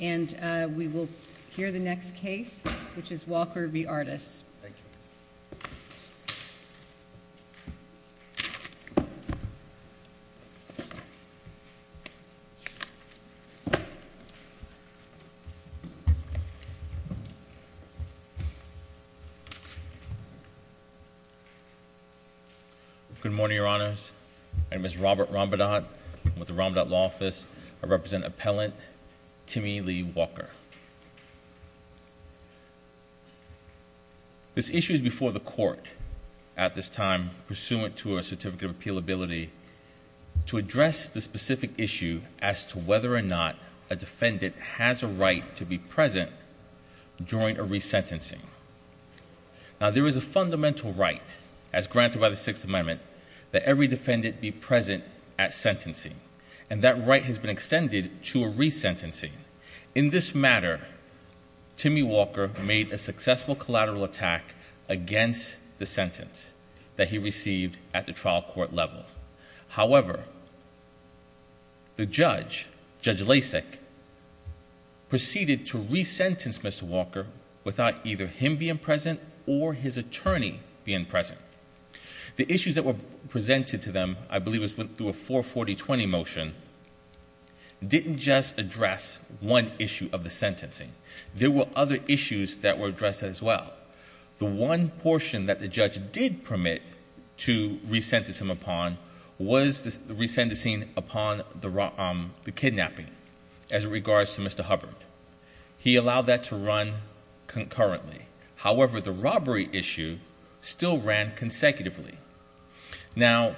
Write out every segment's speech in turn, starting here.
And we will hear the next case, which is Walker v. Artus. Thank you. Good morning, your honors. I'm Mr. Robert Rombadott with the Rombadott Law Office. I represent Appellant Timmy Lee Walker. This issue is before the court at this time, pursuant to a certificate of appealability, to address the specific issue as to whether or not a defendant has a right to be present during a resentencing. Now, there is a fundamental right, as granted by the Sixth Amendment, that every defendant be present at sentencing. And that right has been extended to a resentencing. In this matter, Timmy Walker made a successful collateral attack against the sentence that he received at the trial court level. However, the judge, Judge Lasik, proceeded to resentence Mr. Walker without either him being present or his attorney being present. The issues that were presented to them, I believe, through a 440-20 motion, didn't just address one issue of the sentencing. There were other issues that were addressed as well. The one portion that the judge did permit to resentence him upon was the resentencing upon the kidnapping as regards to Mr. Hubbard. He allowed that to run concurrently. However, the robbery issue still ran consecutively. Now,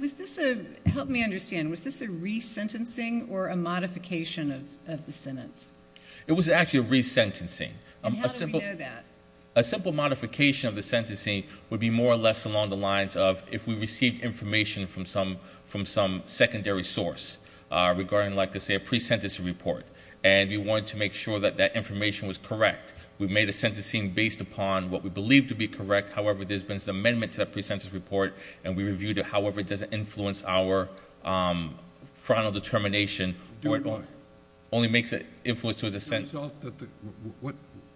was this a, help me understand, was this a resentencing or a modification of the sentence? It was actually a resentencing. And how did we know that? A simple modification of the sentencing would be more or less along the lines of if we received information from some secondary source regarding, like I say, a pre-sentencing report. And we wanted to make sure that that information was correct. We made a sentencing based upon what we believed to be correct. However, there's been some amendments to that pre-sentence report. And we reviewed it. However, it doesn't influence our frontal determination. Do it why? Only makes it influence to the sentence.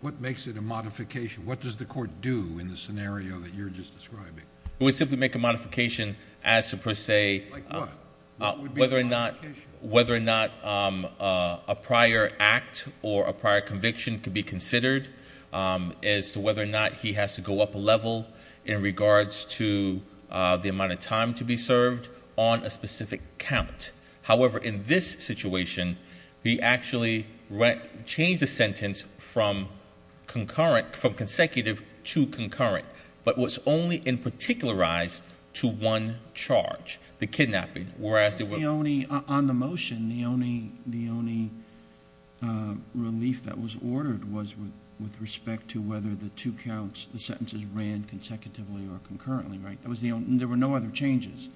What makes it a modification? What does the court do in the scenario that you're just describing? We simply make a modification as to, per se, whether or not a prior act or a prior conviction could be considered as to whether or not he has to go up a level in regards to the amount of time to be served on a specific count. However, in this situation, he actually changed the sentence from consecutive to concurrent, but was only in particularized to one charge, the kidnapping. Whereas the only on the motion, the only relief that was ordered was with respect to whether the two counts, the sentences ran consecutively or concurrently, right? There were no other changes.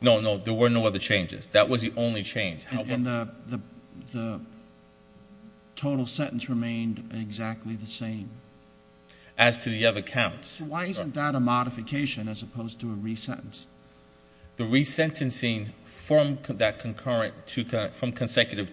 No, no, there were no other changes. That was the only change. And the total sentence remained exactly the same? As to the other counts. Why isn't that a modification as opposed to a re-sentence? The re-sentencing from consecutive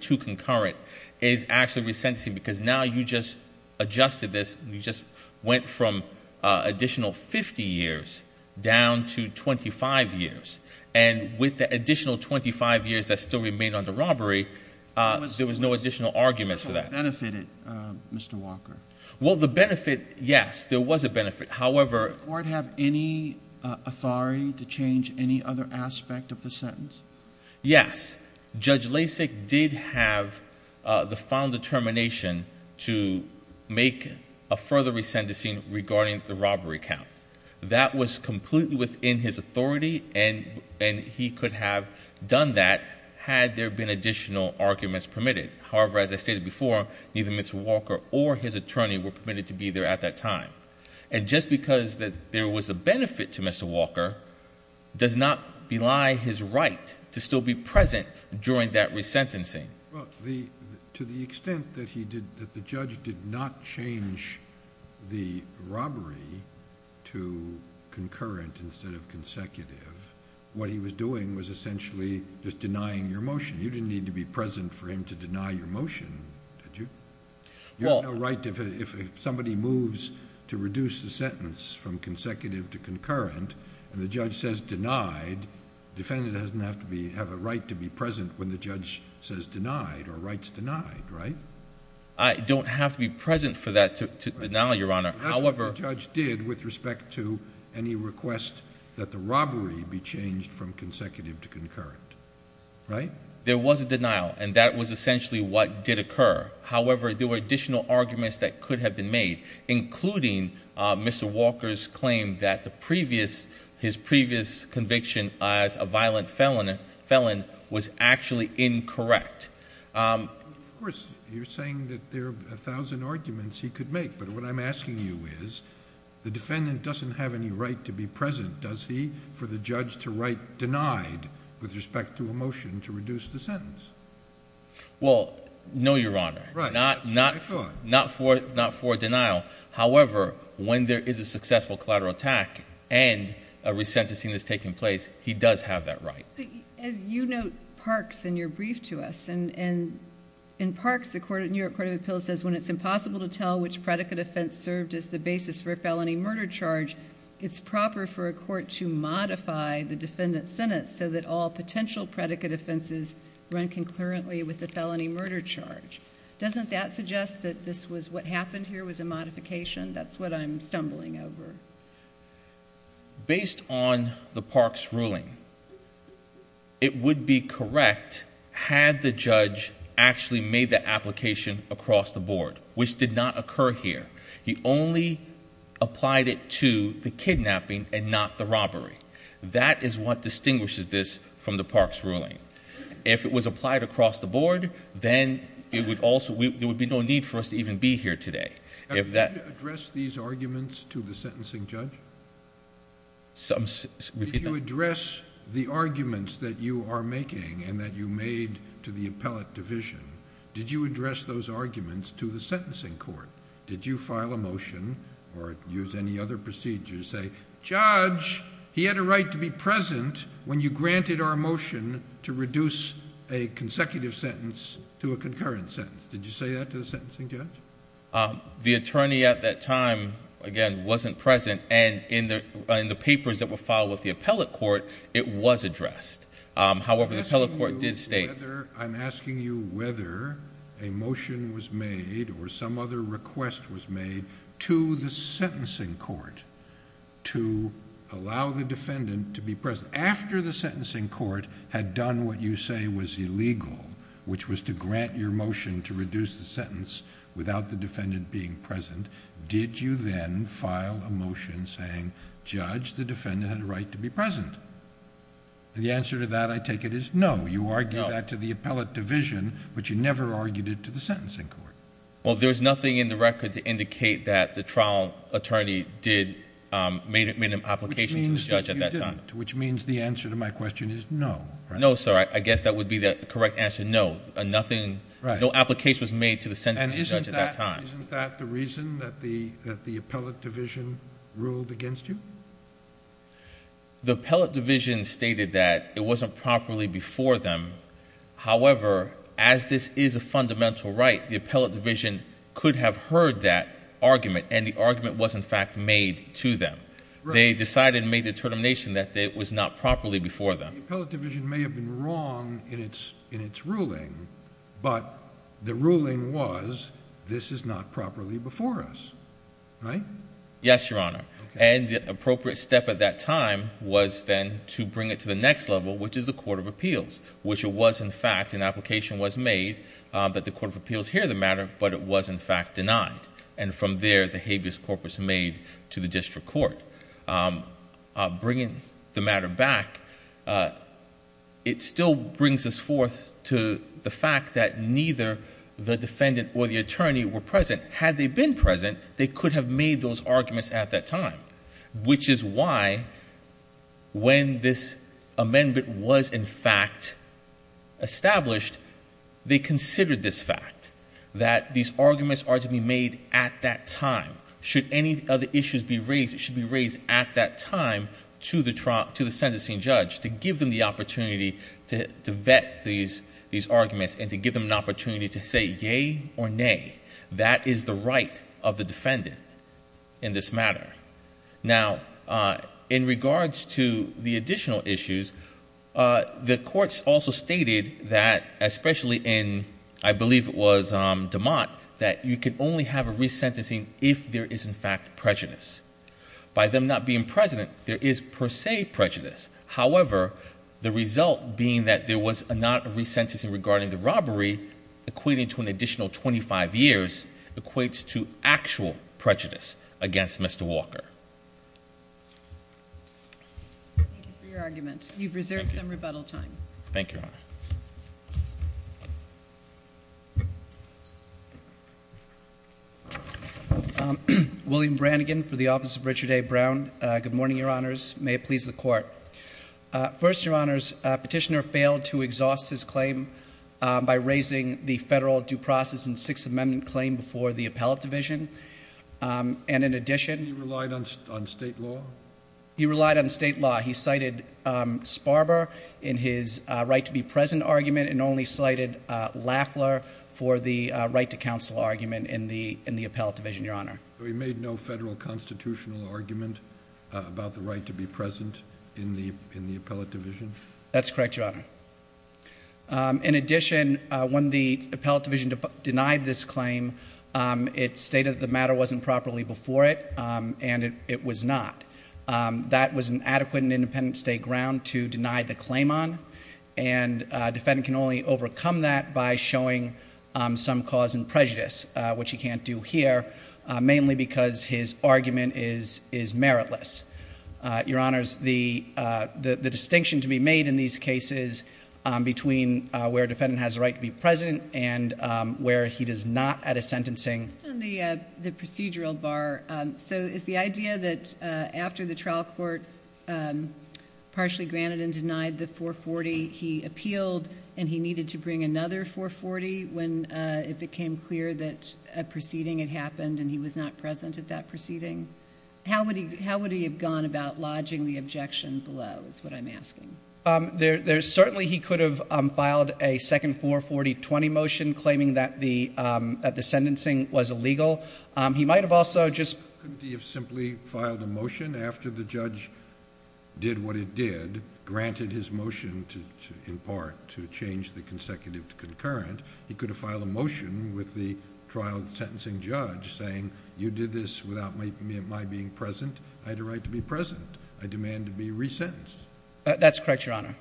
to concurrent is actually re-sentencing, because now you just adjusted this, and you just went from additional 50 years down to 25 years. And with the additional 25 years that still remained on the robbery, there was no additional arguments for that. But the court benefited, Mr. Walker. Well, the benefit, yes, there was a benefit. However, Did the court have any authority to change any other aspect of the sentence? Yes. Judge Lasik did have the final determination to make a further re-sentencing regarding the robbery count. That was completely within his authority, and he could have done that had there been additional arguments permitted. However, as I stated before, neither Mr. Walker or his attorney were permitted to be there at that time. And just because there was a benefit to Mr. Walker does not belie his right to still be present during that re-sentencing. To the extent that the judge did not change the robbery to concurrent instead of consecutive, what he was doing was essentially just denying your motion. You didn't need to be present for him to deny your motion, did you? You have no right, if somebody moves to reduce the sentence from consecutive to concurrent, and the judge says denied, the defendant doesn't have to have a right to be present when the judge says denied or writes denied, right? I don't have to be present for that to denial, Your Honor. However, That's what the judge did with respect to any request that the robbery be changed from consecutive to concurrent. Right? There was a denial, and that was essentially what did occur. However, there were additional arguments that could have been made, including Mr. Walker's claim that his previous conviction as a violent felon was actually incorrect. Of course, you're saying that there are 1,000 arguments he could make. But what I'm asking you is, the defendant doesn't have any right to be present, does he, for the judge to write denied with respect to a motion to reduce the sentence? Well, no, Your Honor. Right, that's what I thought. Not for denial. However, when there is a successful collateral attack and a re-sentencing is taking place, he does have that right. As you note, Parks, in your brief to us, and in Parks, the New York Court of Appeals says when it's impossible to tell which predicate offense served as the basis for a felony murder charge, it's proper for a court to modify the defendant's sentence so that all potential predicate offenses run concurrently with the felony murder charge. Doesn't that suggest that this was what happened here was a modification? That's what I'm stumbling over. Based on the Parks ruling, it would be correct had the judge actually made the application across the board, which did not occur here. He only applied it to the kidnapping and not the robbery. That is what distinguishes this from the Parks ruling. If it was applied across the board, then there would be no need for us to even be here today. Did you address these arguments to the sentencing judge? Did you address the arguments that you are making and that you made to the appellate division? Did you address those arguments to the sentencing court? Did you file a motion or use any other procedure to say, judge, he had a right to be present when you granted our motion to reduce a consecutive sentence to a concurrent sentence? Did you say that to the sentencing judge? The attorney at that time, again, wasn't present. And in the papers that were filed with the appellate court, it was addressed. However, the appellate court did state. I'm asking you whether a motion was made or some other request was made to the sentencing court to allow the defendant to be present after the sentencing court had done what you say was illegal, which was to grant your motion to reduce the sentence without the defendant being present. Did you then file a motion saying, judge, the defendant had a right to be present? And the answer to that, I take it, is no. You argued that to the appellate division, but you never argued it to the sentencing court. Well, there's nothing in the record to indicate that the trial attorney made an application to the judge at that time. Which means that you didn't, which means the answer to my question is no, right? No, sir. I guess that would be the correct answer. No, nothing, no application was made to the sentencing judge at that time. And isn't that the reason that the appellate division ruled against you? The appellate division stated that it wasn't properly before them. However, as this is a fundamental right, the appellate division could have heard that argument and the argument was in fact made to them. They decided and made a determination that it was not properly before them. The appellate division may have been wrong in its ruling, but the ruling was this is not properly before us, right? Yes, Your Honor. And the appropriate step at that time was then to bring it to the next level, which is the court of appeals, which it was in fact, an application was made that the court of appeals hear the matter, but it was in fact denied. And from there, the habeas corpus made to the district court. Bringing the matter back, it still brings us forth to the fact that neither the defendant or the attorney were present. Had they been present, they could have made those arguments at that time, which is why when this amendment was in fact established, they considered this fact that these arguments are to be made at that time. Should any other issues be raised, at that time to the sentencing judge to give them the opportunity to vet these arguments and to give them an opportunity to say, yay or nay, that is the right of the defendant in this matter. Now, in regards to the additional issues, the courts also stated that, especially in, I believe it was DeMott, that you can only have a resentencing if there is in fact prejudice. By them not being present, there is per se prejudice. However, the result being that there was not a resentencing regarding the robbery, equating to an additional 25 years, equates to actual prejudice against Mr. Walker. Thank you for your argument. You've reserved some rebuttal time. Thank you, Your Honor. William Brannigan for the Office of Richard A. Brown. Good morning, Your Honors. May it please the Court. First, Your Honors, Petitioner failed to exhaust his claim by raising the federal due process and Sixth Amendment claim before the Appellate Division. And in addition- He relied on state law? He relied on state law. He cited Sparber in his right to be present argument and only cited Lafler for the right to counsel argument in the Appellate Division, Your Honor. So he made no federal constitutional argument about the right to be present in the Appellate Division? That's correct, Your Honor. In addition, when the Appellate Division denied this claim, it stated that the matter wasn't properly before it and it was not. That was an adequate and independent state ground to deny the claim on. And a defendant can only overcome that by showing some cause and prejudice, which he can't do here, mainly because his argument is meritless. Your Honors, the distinction to be made in these cases between where a defendant has the right to be present and where he does not at a sentencing- Based on the procedural bar, so is the idea that after the trial court partially granted and denied the 440, he appealed and he needed to bring another 440 when it became clear that a proceeding had happened and he was not present at that proceeding? How would he have gone about lodging the objection below, is what I'm asking. There's certainly, he could have filed a second 440-20 motion claiming that the sentencing was illegal. He might have also just- Couldn't he have simply filed a motion after the judge did what it did, granted his motion in part to change the consecutive to concurrent. He could have filed a motion with the trial sentencing judge saying, you did this without my being present. I had a right to be present. I demand to be resentenced. That's correct, Your Honor.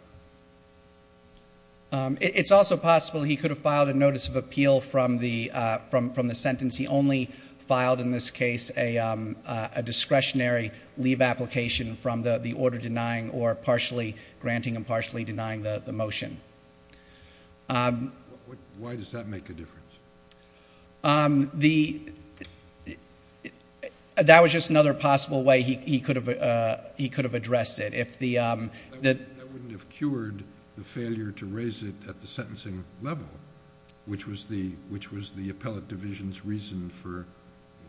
It's also possible he could have filed a notice of appeal from the sentence. He only filed in this case a discretionary leave application from the order denying or partially granting and partially denying the motion. Why does that make a difference? That was just another possible way he could have addressed it. I wouldn't have cured the failure to raise it at the sentencing level, which was the appellate division's reason for,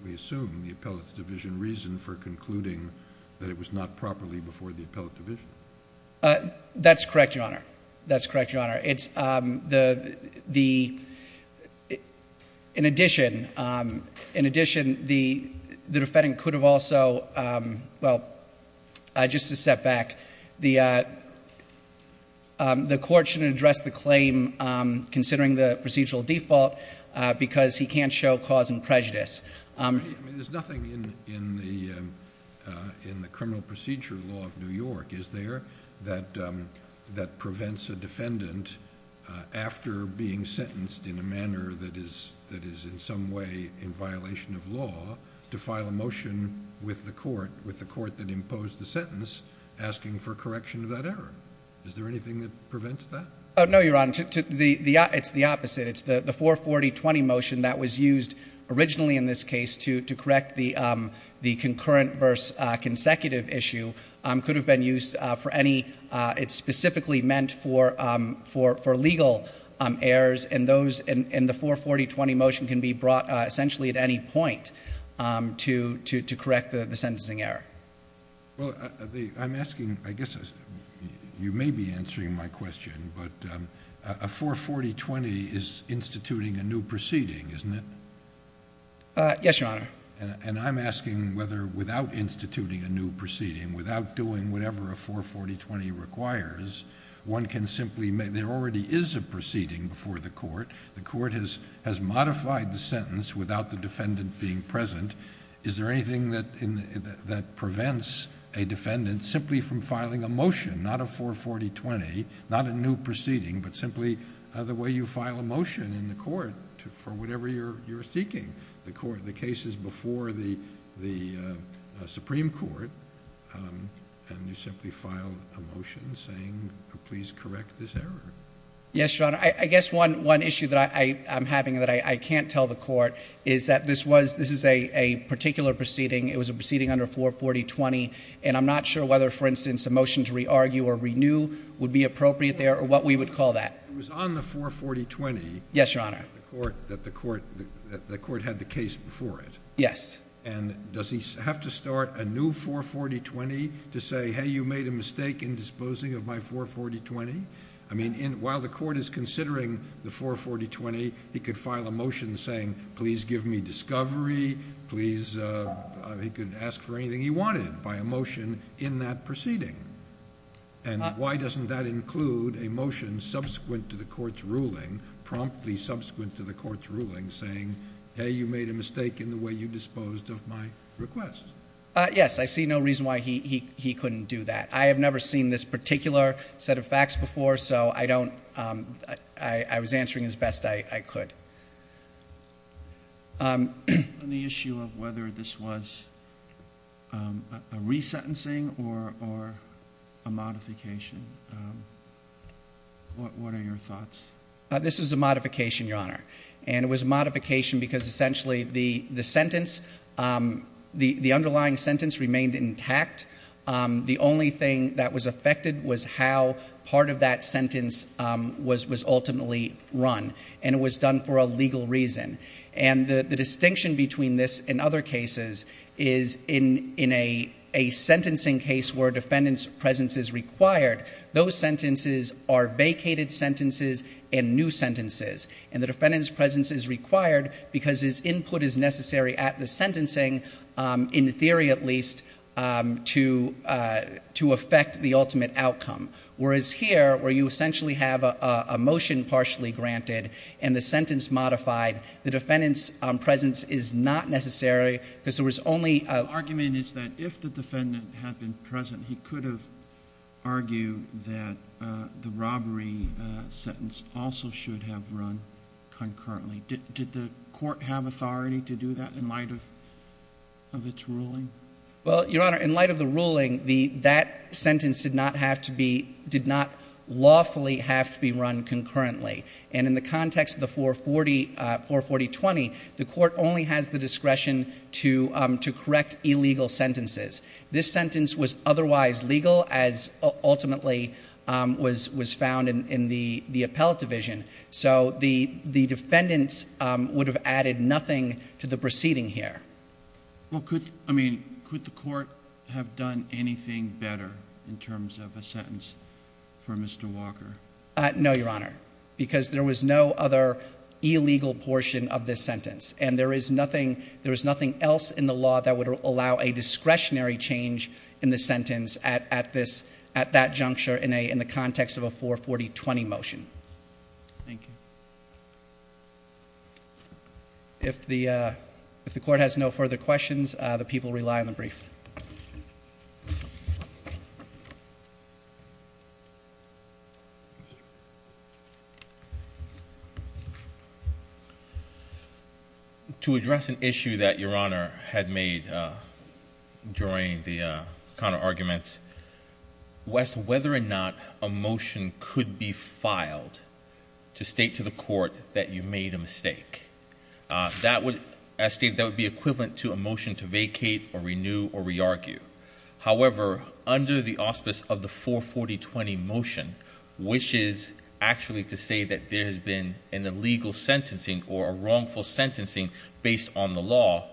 we assume, the appellate's division reason for concluding that it was not properly before the appellate division. That's correct, Your Honor. That's correct, Your Honor. In addition, the defendant could have also, well, just to step back, the court shouldn't address the claim considering the procedural default because he can't show cause and prejudice. There's nothing in the criminal procedure law of New York is there that prevents a defendant after being sentenced in a manner that is in some way in violation of law to file a motion with the court, with the court that imposed the sentence, asking for correction of that error. Is there anything that prevents that? Oh, no, Your Honor. It's the opposite. It's the 440-20 motion that was used originally in this case to correct the concurrent versus consecutive issue could have been used for any, it's specifically meant for legal errors, and the 440-20 motion can be brought essentially at any point to correct the sentencing error. Well, I'm asking, I guess you may be answering my question, but a 440-20 is instituting a new proceeding, isn't it? Yes, Your Honor. And I'm asking whether, without instituting a new proceeding, without doing whatever a 440-20 requires, one can simply make, there already is a proceeding before the court. The court has modified the sentence without the defendant being present. Is there anything that prevents a defendant simply from filing a motion, not a 440-20, not a new proceeding, but simply the way you file a motion in the court for whatever you're seeking. The court, the case is before the Supreme Court, and you simply file a motion saying, please correct this error. Yes, Your Honor. I guess one issue that I'm having that I can't tell the court is that this is a particular proceeding. It was a proceeding under 440-20, and I'm not sure whether, for instance, a motion to re-argue or renew would be appropriate there, or what we would call that. It was on the 440-20. Yes, Your Honor. That the court had the case before it. Yes. And does he have to start a new 440-20 to say, hey, you made a mistake in disposing of my 440-20? I mean, while the court is considering the 440-20, he could file a motion saying, please give me discovery, please, he could ask for anything he wanted by a motion in that proceeding. And why doesn't that include a motion subsequent to the court's ruling, promptly subsequent to the court's ruling, saying, hey, you made a mistake in the way you disposed of my request? Yes, I see no reason why he couldn't do that. I have never seen this particular set of facts before, so I don't, I was answering as best I could. On the issue of whether this was a resentencing or a modification, what are your thoughts? This was a modification, Your Honor. And it was a modification because essentially the sentence, the underlying sentence remained intact. The only thing that was affected was how part of that sentence was ultimately run. And it was done for a legal reason. And the distinction between this and other cases is in a sentencing case where defendant's presence is required, those sentences are vacated sentences and new sentences. And the defendant's presence is required because his input is necessary at the sentencing, in theory at least, to affect the ultimate outcome. Whereas here, where you essentially have a motion partially granted and the sentence modified, the defendant's presence is not necessary because there was only a- The argument is that if the defendant had been present, he could have argued that the robbery sentence also should have run concurrently. Did the court have authority to do that in light of its ruling? Well, Your Honor, in light of the ruling, that sentence did not have to be, did not lawfully have to be run concurrently. And in the context of the 440-20, the court only has the discretion to correct illegal sentences. This sentence was otherwise legal as ultimately was found in the appellate division. So the defendants would have added nothing to the proceeding here. Well, could, I mean, could the court have done anything better in terms of a sentence for Mr. Walker? No, Your Honor, because there was no other illegal portion of this sentence. And there is nothing else in the law that would allow a discretionary change in the sentence at that juncture in the context of a 440-20 motion. Thank you. If the court has no further questions, the people rely on the brief. Thank you. To address an issue that Your Honor had made during the counter-arguments, whether or not a motion could be filed to state to the court that you made a mistake. That would, I state that would be equivalent to a motion to vacate or renew or re-argue. However, under the auspice of the 440-20 motion, which is actually to say that there has been an illegal sentencing or a wrongful sentencing based on the law,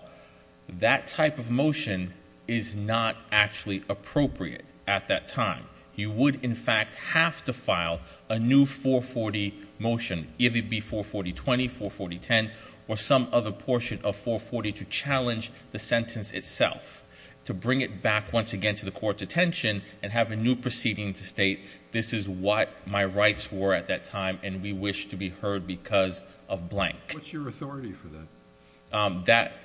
that type of motion is not actually appropriate at that time. You would, in fact, have to file a new 440 motion, either it be 440-20, 440-10, or some other portion of 440 to challenge the sentence itself, to bring it back once again to the court's attention and have a new proceeding to state, this is what my rights were at that time and we wish to be heard because of blank. What's your authority for that? That,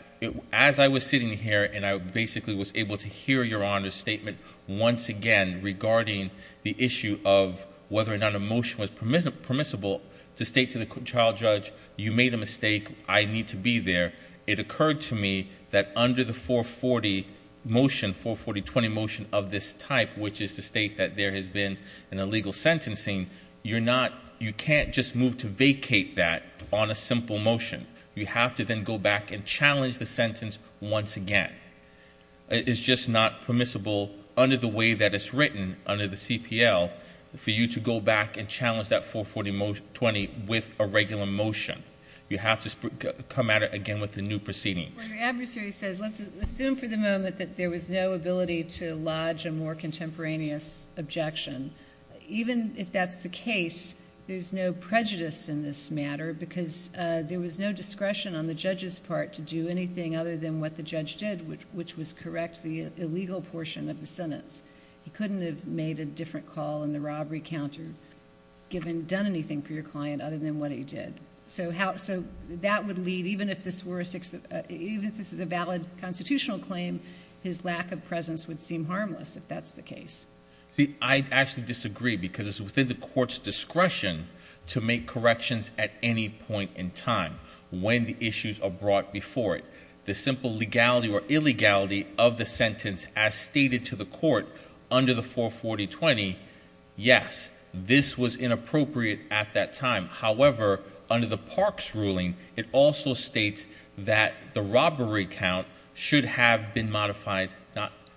as I was sitting here and I basically was able to hear Your Honor's statement once again regarding the issue of whether or not a motion was permissible to state to the trial judge, you made a mistake, I need to be there. It occurred to me that under the 440 motion, 440-20 motion of this type, which is to state that there has been an illegal sentencing, you're not, you can't just move to vacate that on a simple motion. You have to then go back and challenge the sentence once again. It's just not permissible under the way that it's written under the CPL for you to go back and challenge that 440-20 with a regular motion. You have to come at it again with a new proceeding. My adversary says, let's assume for the moment that there was no ability to lodge a more contemporaneous objection. Even if that's the case, there's no prejudice in this matter because there was no discretion on the judge's part to do anything other than what the judge did, which was correct the illegal portion of the sentence. He couldn't have made a different call in the robbery counter, done anything for your client other than what he did. So that would lead, even if this is a valid constitutional claim, his lack of presence would seem harmless if that's the case. See, I actually disagree because it's within the court's discretion to make corrections at any point in time when the issues are brought before it. The simple legality or illegality of the sentence as stated to the court under the 440-20, yes, this was inappropriate at that time. However, under the Parks ruling, it also states that the robbery count should have been modified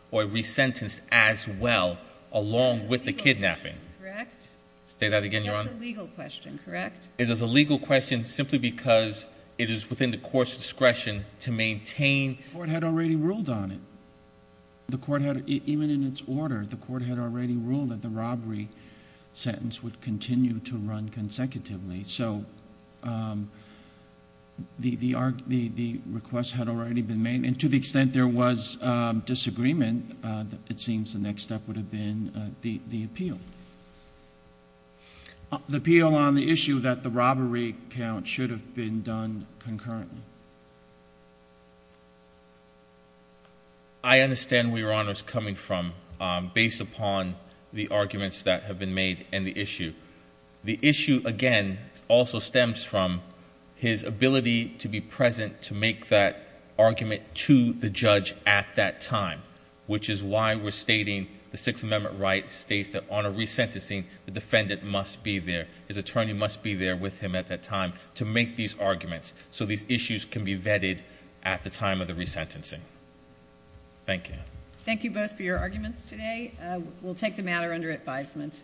or resentenced as well along with the kidnapping. Correct. Say that again, Your Honor. That's a legal question, correct? It is a legal question simply because it is within the court's discretion to maintain. The court had already ruled on it. The court had, even in its order, the court had already ruled that the robbery sentence would continue to run consecutively. So the request had already been made and to the extent there was disagreement, it seems the next step would have been the appeal. The appeal on the issue that the robbery count should have been done concurrently. I understand where Your Honor's coming from based upon the arguments that have been made and the issue. The issue, again, also stems from his ability to be present to make that argument to the judge at that time, which is why we're stating the Sixth Amendment right states that on a resentencing, the defendant must be there, his attorney must be there so these issues can be vetted at the time of the resentencing. Thank you. Thank you both for your arguments today. We'll take the matter under advisement.